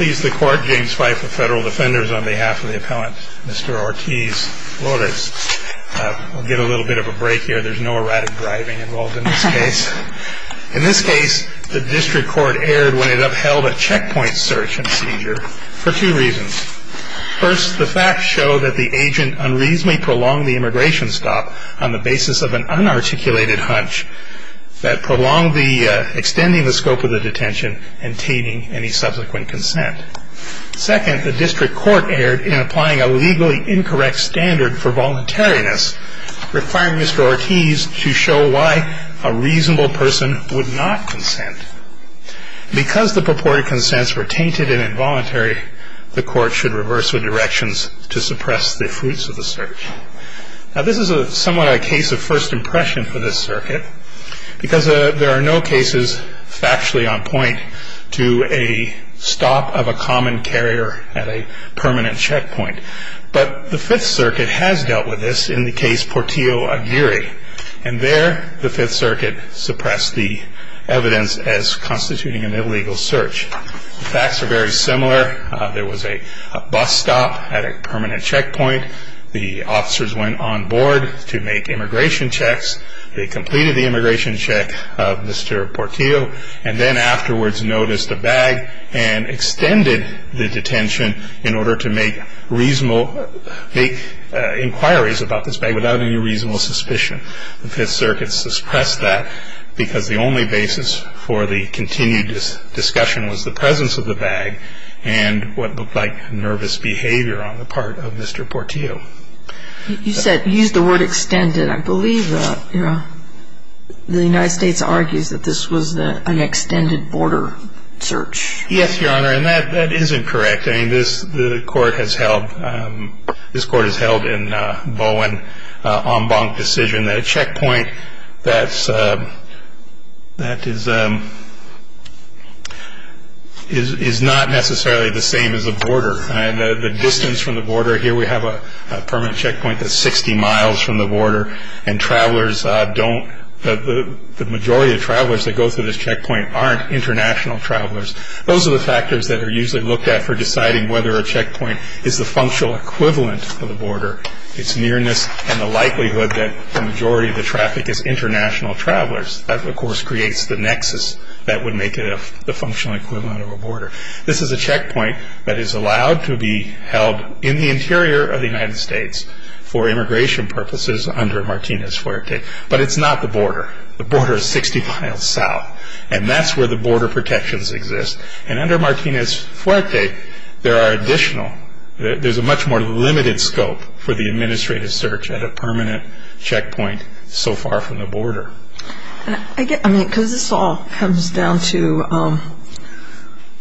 In this case, the district court erred when it upheld a checkpoint search and seizure for two reasons. First, the facts show that the agent unreasonably prolonged the immigration stop on the basis of an unarticulated hunch that prolonged extending the scope of the detention and tainting any subsequent consent. Second, the district court erred in applying a legally incorrect standard for voluntariness, requiring Mr. Ortiz to show why a reasonable person would not consent. Because the purported consents were tainted and involuntary, the court should reverse the directions to suppress the fruits of the search. Now this is somewhat a case of first impression for this circuit, because there are no cases factually on point to a stop of a common carrier at a permanent checkpoint. But the Fifth Circuit has dealt with this in the case Portillo-Aguirre, and there the Fifth Circuit suppressed the evidence as constituting an illegal search. The facts are very similar. There was a bus stop at a permanent checkpoint. The officers went on board to make immigration checks. They completed the immigration check of Mr. Portillo, and then afterwards noticed a bag and extended the detention in order to make inquiries about this bag without any reasonable suspicion. The Fifth Circuit suppressed that because the only basis for the continued discussion was the presence of the bag, and what looked like nervous behavior on the part of Mr. Portillo. You said you used the word extended. I believe the United States argues that this was an extended border search. Yes, Your Honor, and that is incorrect. This Court has held in Bowen-Ombank decision that a checkpoint that is not necessarily the same as a border. The distance from the border here, we have a permanent checkpoint that's 60 miles from the border, and the majority of travelers that go through this checkpoint aren't international travelers. Those are the factors that are usually looked at for deciding whether a checkpoint is the functional equivalent of a border, its nearness, and the likelihood that the majority of the traffic is international travelers. That, of course, creates the nexus that would make it the functional equivalent of a border. This is a checkpoint that is allowed to be held in the interior of the United States for immigration purposes under Martinez-Fuerte, but it's not the border. The border is 60 miles south, and that's where the border protections exist. And under Martinez-Fuerte, there are additional, there's a much more limited scope for the administrative search at a permanent checkpoint so far from the border. I mean, because this all comes down to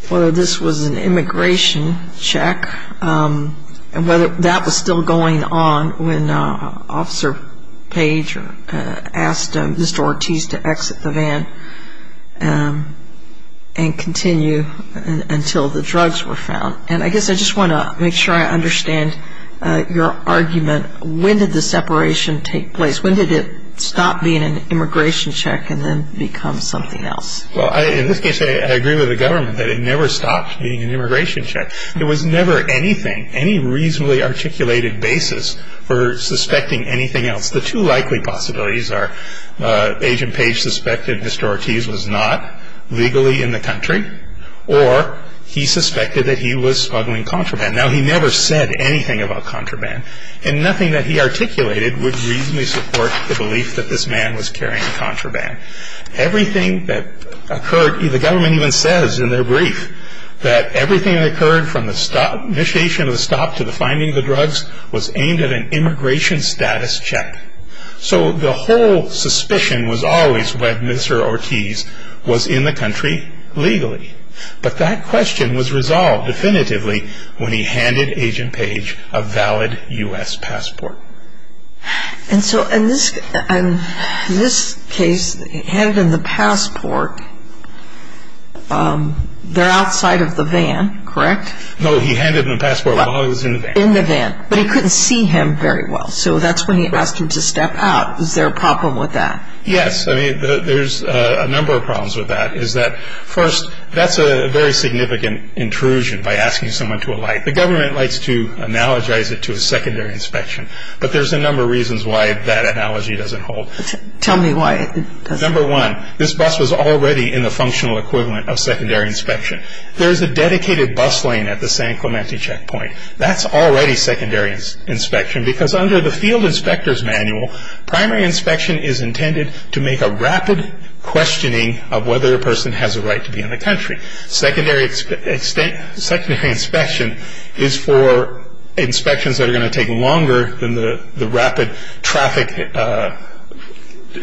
whether this was an immigration check and whether that was still going on when Officer Page asked Mr. Ortiz to exit the van and continue until the drugs were found. And I guess I just want to make sure I understand your argument. When did the separation take place? When did it stop being an immigration check and then become something else? Well, in this case, I agree with the government that it never stopped being an immigration check. There was never anything, any reasonably articulated basis for suspecting anything else. The two likely possibilities are Agent Page suspected Mr. Ortiz was not legally in the country, or he suspected that he was smuggling contraband. Now, he never said anything about contraband, and nothing that he articulated would reasonably support the belief that this man was carrying contraband. Everything that occurred, the government even says in their brief that everything that occurred from the initiation of the stop to the finding of the drugs was aimed at an immigration status check. So the whole suspicion was always whether Mr. Ortiz was in the country legally. But that question was resolved definitively when he handed Agent Page a valid U.S. passport. And so in this case, he handed him the passport. They're outside of the van, correct? No, he handed him the passport while he was in the van. In the van. But he couldn't see him very well, so that's when he asked him to step out. Is there a problem with that? Yes. I mean, there's a number of problems with that. First, that's a very significant intrusion by asking someone to alight. The government likes to analogize it to a secondary inspection, but there's a number of reasons why that analogy doesn't hold. Tell me why. Number one, this bus was already in the functional equivalent of secondary inspection. There is a dedicated bus lane at the San Clemente checkpoint. That's already secondary inspection because under the field inspector's manual, primary inspection is intended to make a rapid questioning of whether a person has a right to be in the country. Secondary inspection is for inspections that are going to take longer than the rapid traffic.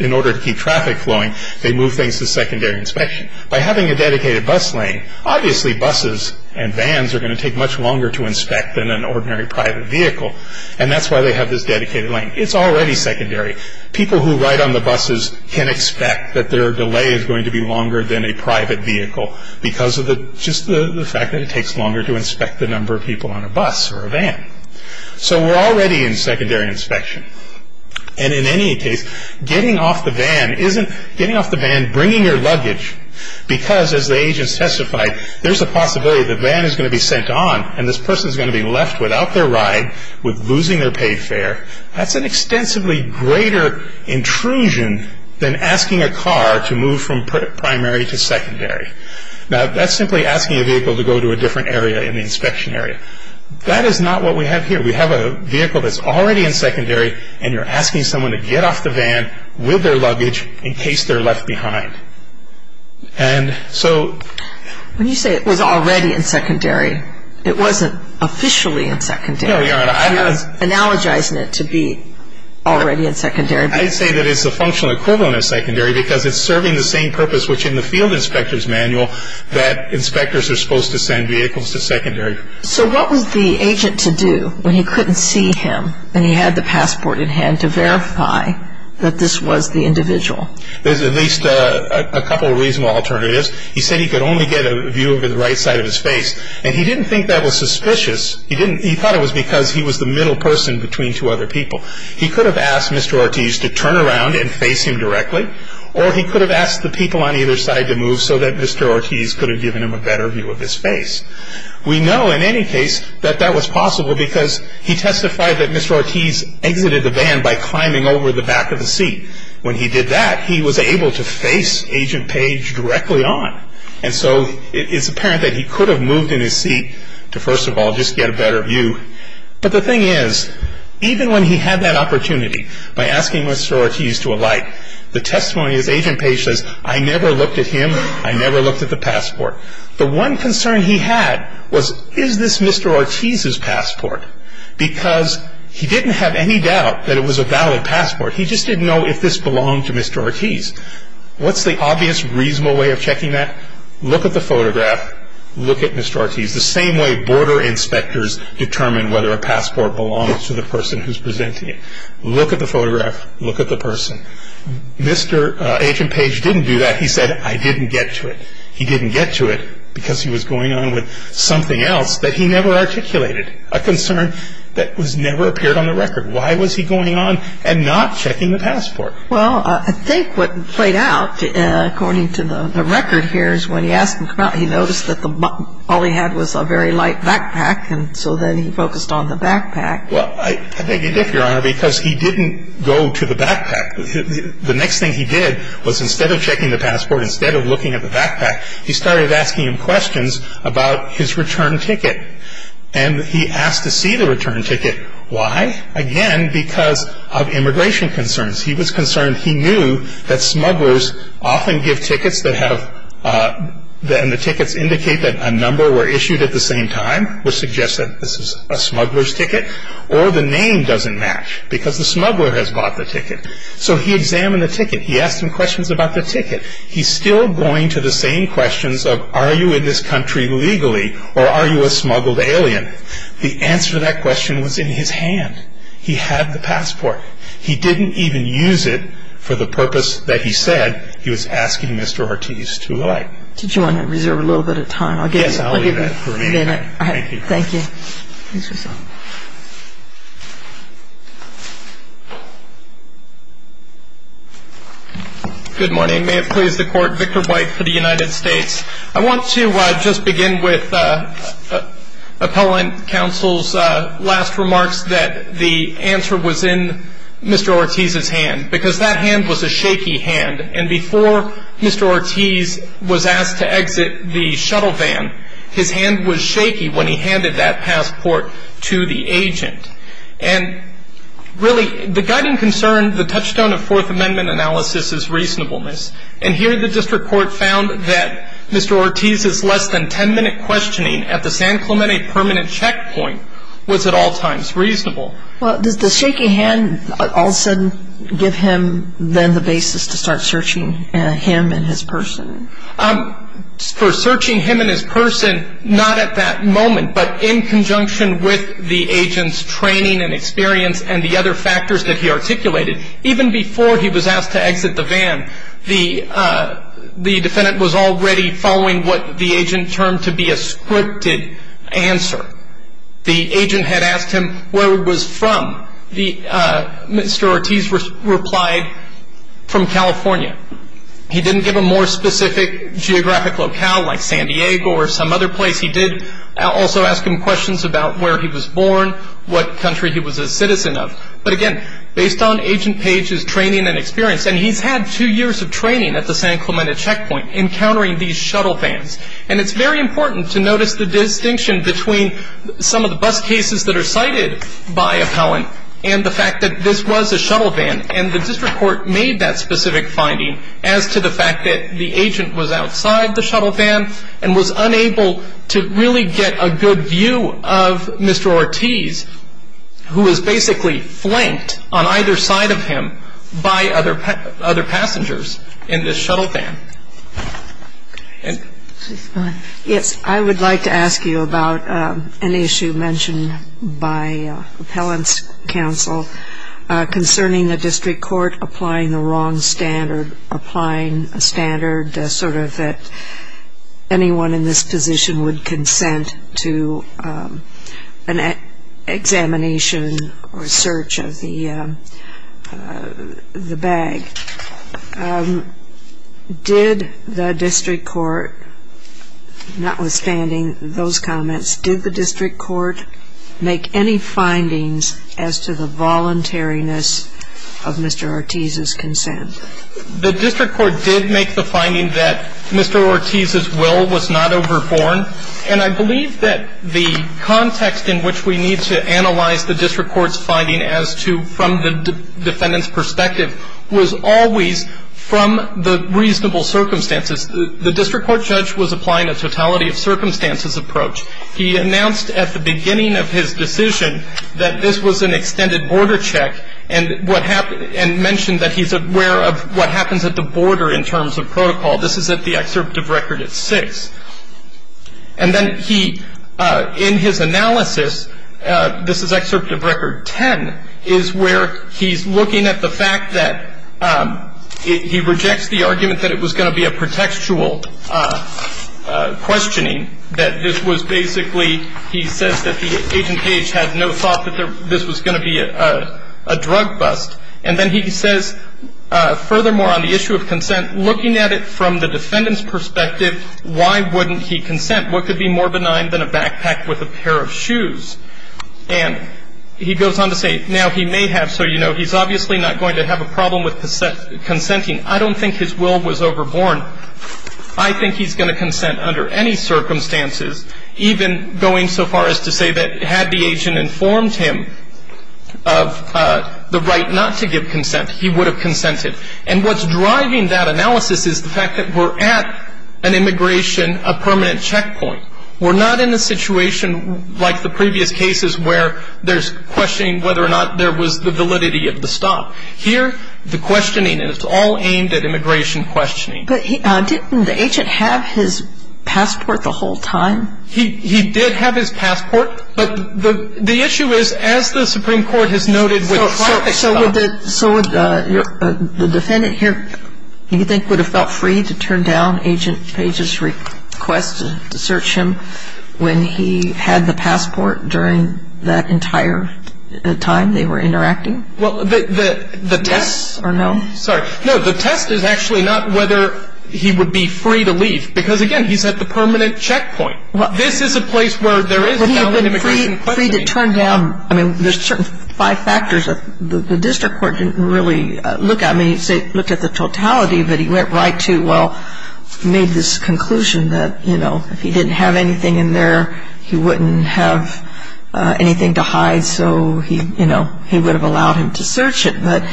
In order to keep traffic flowing, they move things to secondary inspection. By having a dedicated bus lane, obviously buses and vans are going to take much longer to inspect than an ordinary private vehicle, and that's why they have this dedicated lane. It's already secondary. People who ride on the buses can expect that their delay is going to be longer than a private vehicle because of just the fact that it takes longer to inspect the number of people on a bus or a van. So we're already in secondary inspection, and in any case, getting off the van, bringing your luggage, because as the agents testified, there's a possibility the van is going to be sent on and this person is going to be left without their ride with losing their paid fare. That's an extensively greater intrusion than asking a car to move from primary to secondary. Now, that's simply asking a vehicle to go to a different area in the inspection area. That is not what we have here. We have a vehicle that's already in secondary, and you're asking someone to get off the van with their luggage in case they're left behind. And so... When you say it was already in secondary, it wasn't officially in secondary. You're analogizing it to be already in secondary. I'd say that it's the functional equivalent of secondary because it's serving the same purpose which in the field inspector's manual that inspectors are supposed to send vehicles to secondary. So what was the agent to do when he couldn't see him and he had the passport in hand to verify that this was the individual? There's at least a couple of reasonable alternatives. He said he could only get a view over the right side of his face, and he didn't think that was suspicious. He thought it was because he was the middle person between two other people. He could have asked Mr. Ortiz to turn around and face him directly, or he could have asked the people on either side to move so that Mr. Ortiz could have given him a better view of his face. We know in any case that that was possible because he testified that Mr. Ortiz exited the van by climbing over the back of the seat. When he did that, he was able to face Agent Page directly on. And so it's apparent that he could have moved in his seat to, first of all, just get a better view. But the thing is, even when he had that opportunity by asking Mr. Ortiz to alight, the testimony of Agent Page says, I never looked at him, I never looked at the passport. The one concern he had was, is this Mr. Ortiz's passport? Because he didn't have any doubt that it was a valid passport. He just didn't know if this belonged to Mr. Ortiz. What's the obvious, reasonable way of checking that? Look at the photograph, look at Mr. Ortiz, the same way border inspectors determine whether a passport belongs to the person who's presenting it. Look at the photograph, look at the person. Agent Page didn't do that. He said, I didn't get to it. He didn't get to it because he was going on with something else that he never articulated, a concern that was never appeared on the record. Why was he going on and not checking the passport? Well, I think what played out, according to the record here, is when he asked him to come out, he noticed that all he had was a very light backpack, and so then he focused on the backpack. Well, I think he did, Your Honor, because he didn't go to the backpack. The next thing he did was instead of checking the passport, instead of looking at the backpack, he started asking him questions about his return ticket. And he asked to see the return ticket. Why? Again, because of immigration concerns. He was concerned he knew that smugglers often give tickets that have the tickets indicate that a number were issued at the same time, which suggests that this is a smuggler's ticket, or the name doesn't match because the smuggler has bought the ticket. So he examined the ticket. He asked him questions about the ticket. He's still going to the same questions of are you in this country legally or are you a smuggled alien? The answer to that question was in his hand. He had the passport. He didn't even use it for the purpose that he said he was asking Mr. Ortiz to like. Did you want to reserve a little bit of time? Yes, I'll leave that for a minute. Thank you. Thank you. Good morning. May it please the Court, Victor White for the United States. I want to just begin with Appellant Counsel's last remarks that the answer was in Mr. Ortiz's hand because that hand was a shaky hand. And before Mr. Ortiz was asked to exit the shuttle van, his hand was shaky when he handed that passport to the agent. And really, the guiding concern, the touchstone of Fourth Amendment analysis is reasonableness. And here the district court found that Mr. Ortiz's less than 10-minute questioning at the San Clemente permanent checkpoint was at all times reasonable. Well, does the shaky hand all of a sudden give him then the basis to start searching him and his person? For searching him and his person, not at that moment, but in conjunction with the agent's training and experience and the other factors that he articulated. Even before he was asked to exit the van, the defendant was already following what the agent termed to be a scripted answer. The agent had asked him where he was from. Mr. Ortiz replied, from California. He didn't give a more specific geographic locale like San Diego or some other place. He did also ask him questions about where he was born, what country he was a citizen of. But again, based on Agent Page's training and experience, and he's had two years of training at the San Clemente checkpoint encountering these shuttle vans. And it's very important to notice the distinction between some of the bus cases that are cited by appellant and the fact that this was a shuttle van. And the district court made that specific finding as to the fact that the agent was outside the shuttle van and was unable to really get a good view of Mr. Ortiz, who was basically flanked on either side of him by other passengers in this shuttle van. Yes, I would like to ask you about an issue mentioned by appellant's counsel concerning the district court applying the wrong standard, applying a standard sort of that anyone in this position would consent to an examination or search of the bag. Did the district court, notwithstanding those comments, did the district court make any findings as to the voluntariness of Mr. Ortiz's consent? The district court did make the finding that Mr. Ortiz's will was not overborne. And I believe that the context in which we need to analyze the district court's finding as to from the defendant's perspective was always from the reasonable circumstances. The district court judge was applying a totality of circumstances approach. He announced at the beginning of his decision that this was an extended border check and mentioned that he's aware of what happens at the border in terms of protocol. This is at the excerpt of record at 6. And then he, in his analysis, this is excerpt of record 10, is where he's looking at the fact that he rejects the argument that it was going to be a pretextual questioning, that this was basically he says that the Agent Page had no thought that this was going to be a drug bust. And then he says, furthermore, on the issue of consent, looking at it from the defendant's perspective, why wouldn't he consent? What could be more benign than a backpack with a pair of shoes? And he goes on to say, now, he may have. So, you know, he's obviously not going to have a problem with consenting. I don't think his will was overborne. I think he's going to consent under any circumstances, even going so far as to say that had the agent informed him of the right not to give consent, he would have consented. And what's driving that analysis is the fact that we're at an immigration, a permanent checkpoint. We're not in a situation like the previous cases where there's questioning whether or not there was the validity of the stop. Here, the questioning is all aimed at immigration questioning. But didn't the agent have his passport the whole time? He did have his passport. But the issue is, as the Supreme Court has noted with traffic stops. So would the defendant here, do you think, would have felt free to turn down Agent Page's request to search him when he had the passport during that entire time they were interacting? Well, the test or no? Sorry. No, the test is actually not whether he would be free to leave. Because, again, he's at the permanent checkpoint. This is a place where there is valid immigration questioning. Would he have been free to turn down? I mean, there's certain five factors that the district court didn't really look at. I mean, he looked at the totality, but he went right to, well, made this conclusion that, you know, if he didn't have anything in there, he wouldn't have anything to hide. So, you know, he would have allowed him to search it. But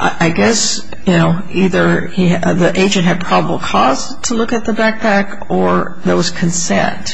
I guess, you know, either the agent had probable cause to look at the backpack or there was consent.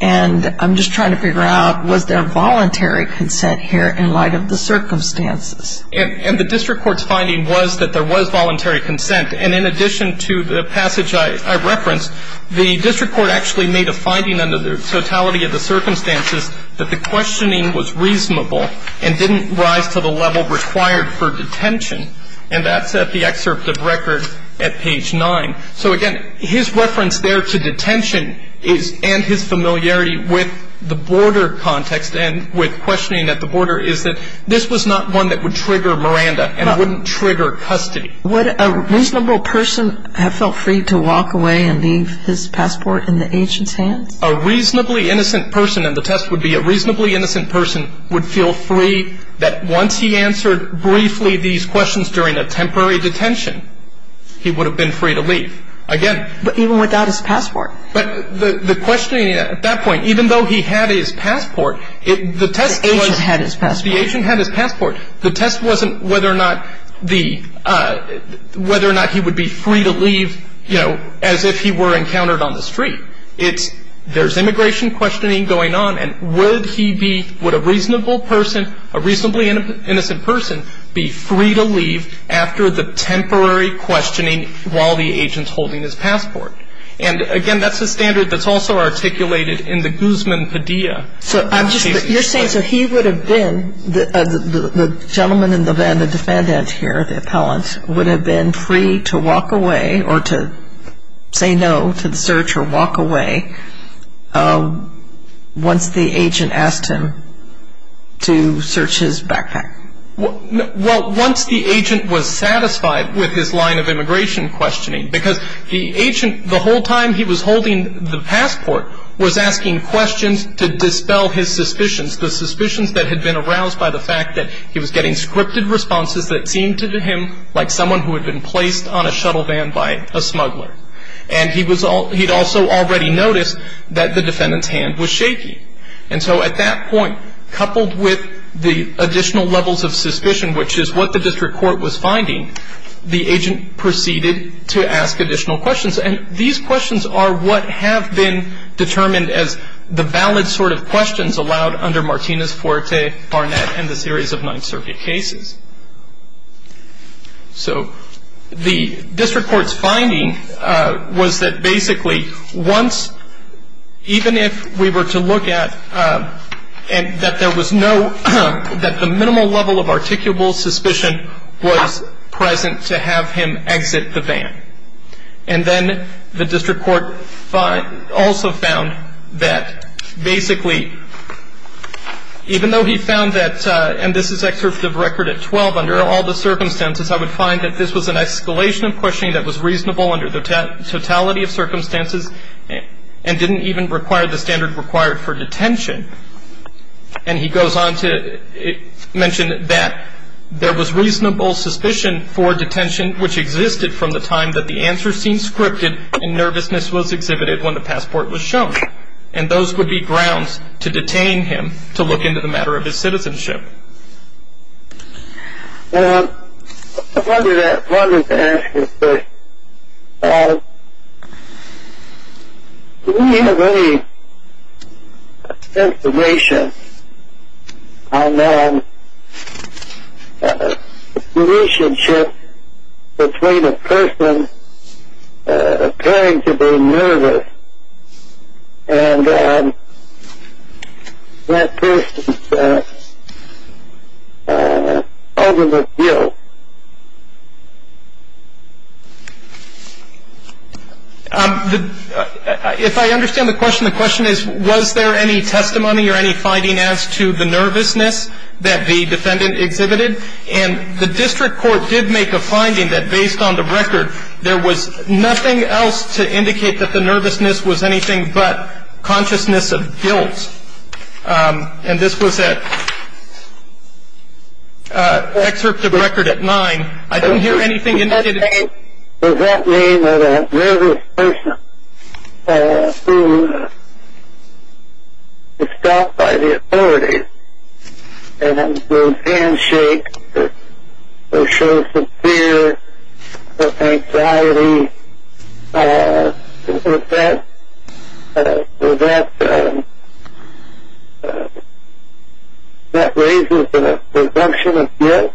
And I'm just trying to figure out, was there voluntary consent here in light of the circumstances? And the district court's finding was that there was voluntary consent. And in addition to the passage I referenced, the district court actually made a finding under the totality of the circumstances that the questioning was reasonable and didn't rise to the level required for detention. And that's at the excerpt of record at page 9. So, again, his reference there to detention and his familiarity with the border context and with questioning at the border is that this was not one that would trigger Miranda and wouldn't trigger custody. Would a reasonable person have felt free to walk away and leave his passport in the agent's hands? A reasonably innocent person, and the test would be a reasonably innocent person, would feel free that once he answered briefly these questions during a temporary detention, he would have been free to leave. Again... But even without his passport? But the questioning at that point, even though he had his passport, the test was... The agent had his passport. The agent had his passport. The test wasn't whether or not he would be free to leave, you know, as if he were encountered on the street. It's there's immigration questioning going on, and would he be... Would a reasonable person, a reasonably innocent person, be free to leave after the temporary questioning while the agent's holding his passport? And, again, that's a standard that's also articulated in the Guzman Padilla. So I'm just... You're saying so he would have been... The gentleman in the van, the defendant here, the appellant, would have been free to walk away or to say no to the search or walk away once the agent asked him to search his backpack? Well, once the agent was satisfied with his line of immigration questioning, because the agent, the whole time he was holding the passport, was asking questions to dispel his suspicions, the suspicions that had been aroused by the fact that he was getting scripted responses that seemed to him like someone who had been placed on a shuttle van by a smuggler. And he'd also already noticed that the defendant's hand was shaky. And so at that point, coupled with the additional levels of suspicion, which is what the district court was finding, the agent proceeded to ask additional questions. And these questions are what have been determined as the valid sort of questions allowed under Martinez, Fuerte, Barnett, and the series of Ninth Circuit cases. So the district court's finding was that basically once, even if we were to look at... and that there was no... that the minimal level of articulable suspicion was present to have him exit the van. And then the district court also found that basically, even though he found that... and this is excerpt of record at 12, under all the circumstances, I would find that this was an escalation of questioning that was reasonable under the totality of circumstances and didn't even require the standard required for detention. And he goes on to mention that there was reasonable suspicion for detention, which existed from the time that the answer seemed scripted and nervousness was exhibited when the passport was shown. And those would be grounds to detain him to look into the matter of his citizenship. I wanted to ask you this. Do we have any information on the relationship between a person appearing to be nervous and that person's ultimate guilt? If I understand the question, the question is, was there any testimony or any finding as to the nervousness that the defendant exhibited? And the district court did make a finding that, based on the record, there was nothing else to indicate that the nervousness was anything but consciousness of guilt. And this was an excerpt of record at 9. I don't hear anything indicated... Does that mean that a nervous person who is stopped by the authorities and whose hands shake or shows some fear or anxiety, does that raise the presumption of guilt?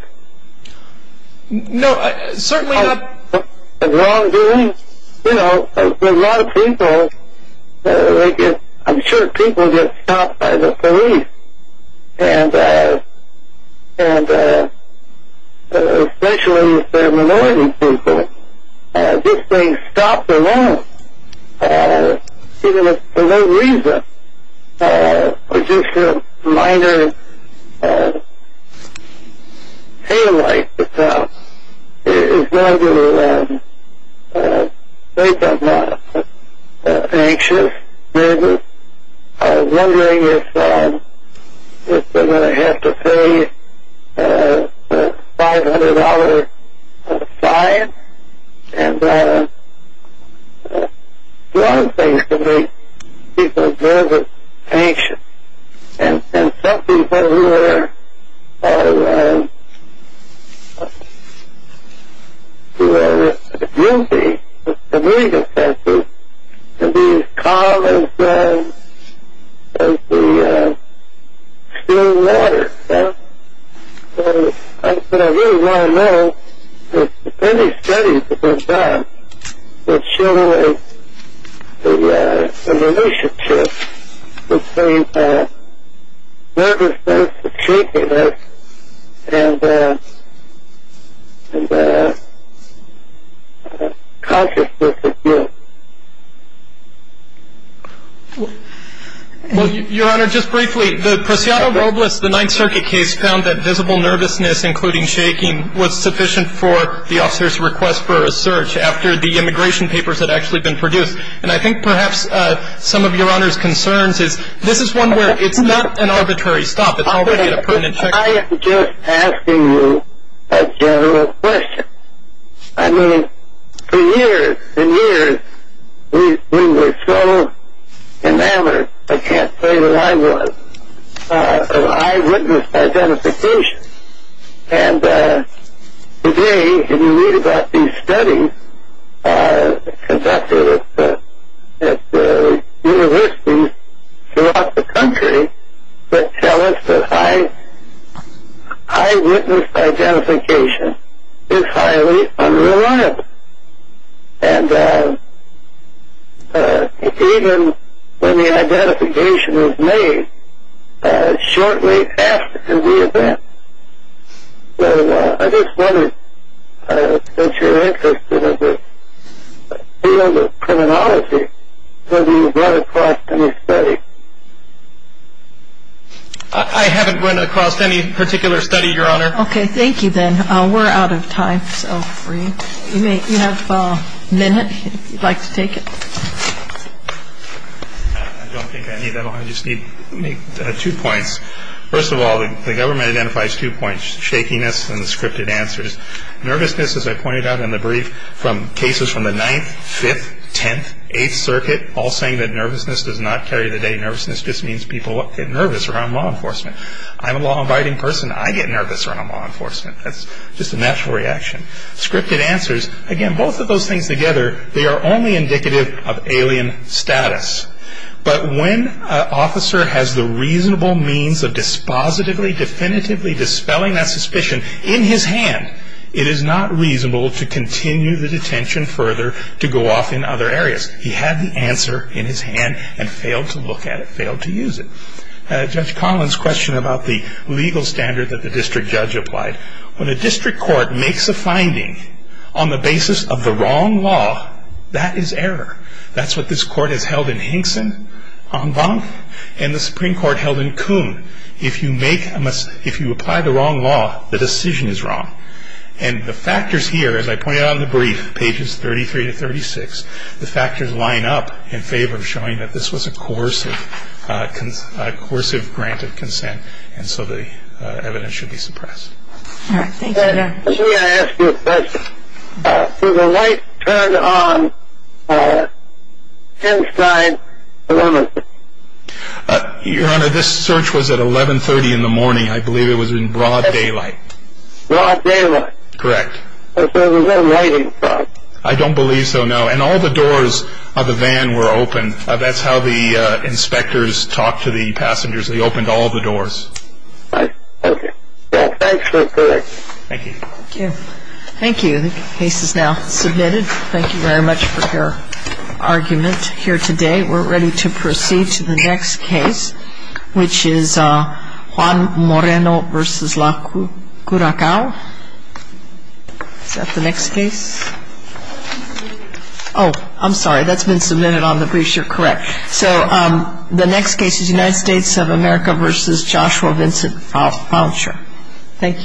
No, certainly not. A wrongdoing? You know, a lot of people, I'm sure people get stopped by the police, and especially the minority people. This thing stops a lot, even if for no reason, or just a minor pain like that. It's not really that they're not anxious, nervous, wondering if they're going to have to pay a $500 fine. And a lot of things can make people nervous, anxious. And some people who are guilty, the community offenders can be as calm as the steel ladder. But I really want to know if any studies have been done that show a relationship between nervousness, shakiness, and consciousness of guilt. Well, Your Honor, just briefly, the Prosciutto Robles, the Ninth Circuit case, found that visible nervousness, including shaking, was sufficient for the officer's request for a search after the immigration papers had actually been produced. And I think perhaps some of Your Honor's concerns is, this is one where it's not an arbitrary stop, it's already a permanent check. I am just asking you a general question. I mean, for years and years we were so enamored, I can't say that I was, of eyewitness identification. And today, if you read about these studies conducted at universities throughout the country that tell us that eyewitness identification is highly unreliable. And even when the identification was made, shortly after the event. So I just wondered, since you're interested in the field of criminology, have you run across any study? I haven't run across any particular study, Your Honor. Okay, thank you, Ben. We're out of time, so if you have a minute, if you'd like to take it. I don't think I need that long. I just need two points. First of all, the government identifies two points, shakiness and the scripted answers. Nervousness, as I pointed out in the brief, from cases from the 9th, 5th, 10th, 8th circuit, all saying that nervousness does not carry the day. Nervousness just means people get nervous around law enforcement. I'm a law-abiding person. I get nervous around law enforcement. That's just a natural reaction. Scripted answers, again, both of those things together, they are only indicative of alien status. But when an officer has the reasonable means of dispositively, definitively dispelling that suspicion in his hand, it is not reasonable to continue the detention further to go off in other areas. He had the answer in his hand and failed to look at it, failed to use it. Judge Collins' question about the legal standard that the district judge applied, when a district court makes a finding on the basis of the wrong law, that is error. That's what this court has held in Hinkson, England, and the Supreme Court held in Kuhn. If you apply the wrong law, the decision is wrong. And the factors here, as I pointed out in the brief, pages 33 to 36, the factors line up in favor of showing that this was a coercive granted consent, and so the evidence should be suppressed. Let me ask you a question. Did the light turn on inside the van? Your Honor, this search was at 1130 in the morning. I believe it was in broad daylight. Broad daylight? Correct. So there was no lighting? I don't believe so, no. And all the doors of the van were open. That's how the inspectors talked to the passengers. They opened all the doors. Okay. Well, thanks for the briefing. Thank you. Thank you. Thank you. The case is now submitted. Thank you very much for your argument here today. We're ready to proceed to the next case, which is Juan Moreno v. La Curacao. Is that the next case? Oh, I'm sorry. That's been submitted on the brief. You're correct. So the next case is United States of America v. Joshua Vincent Fowlter. Thank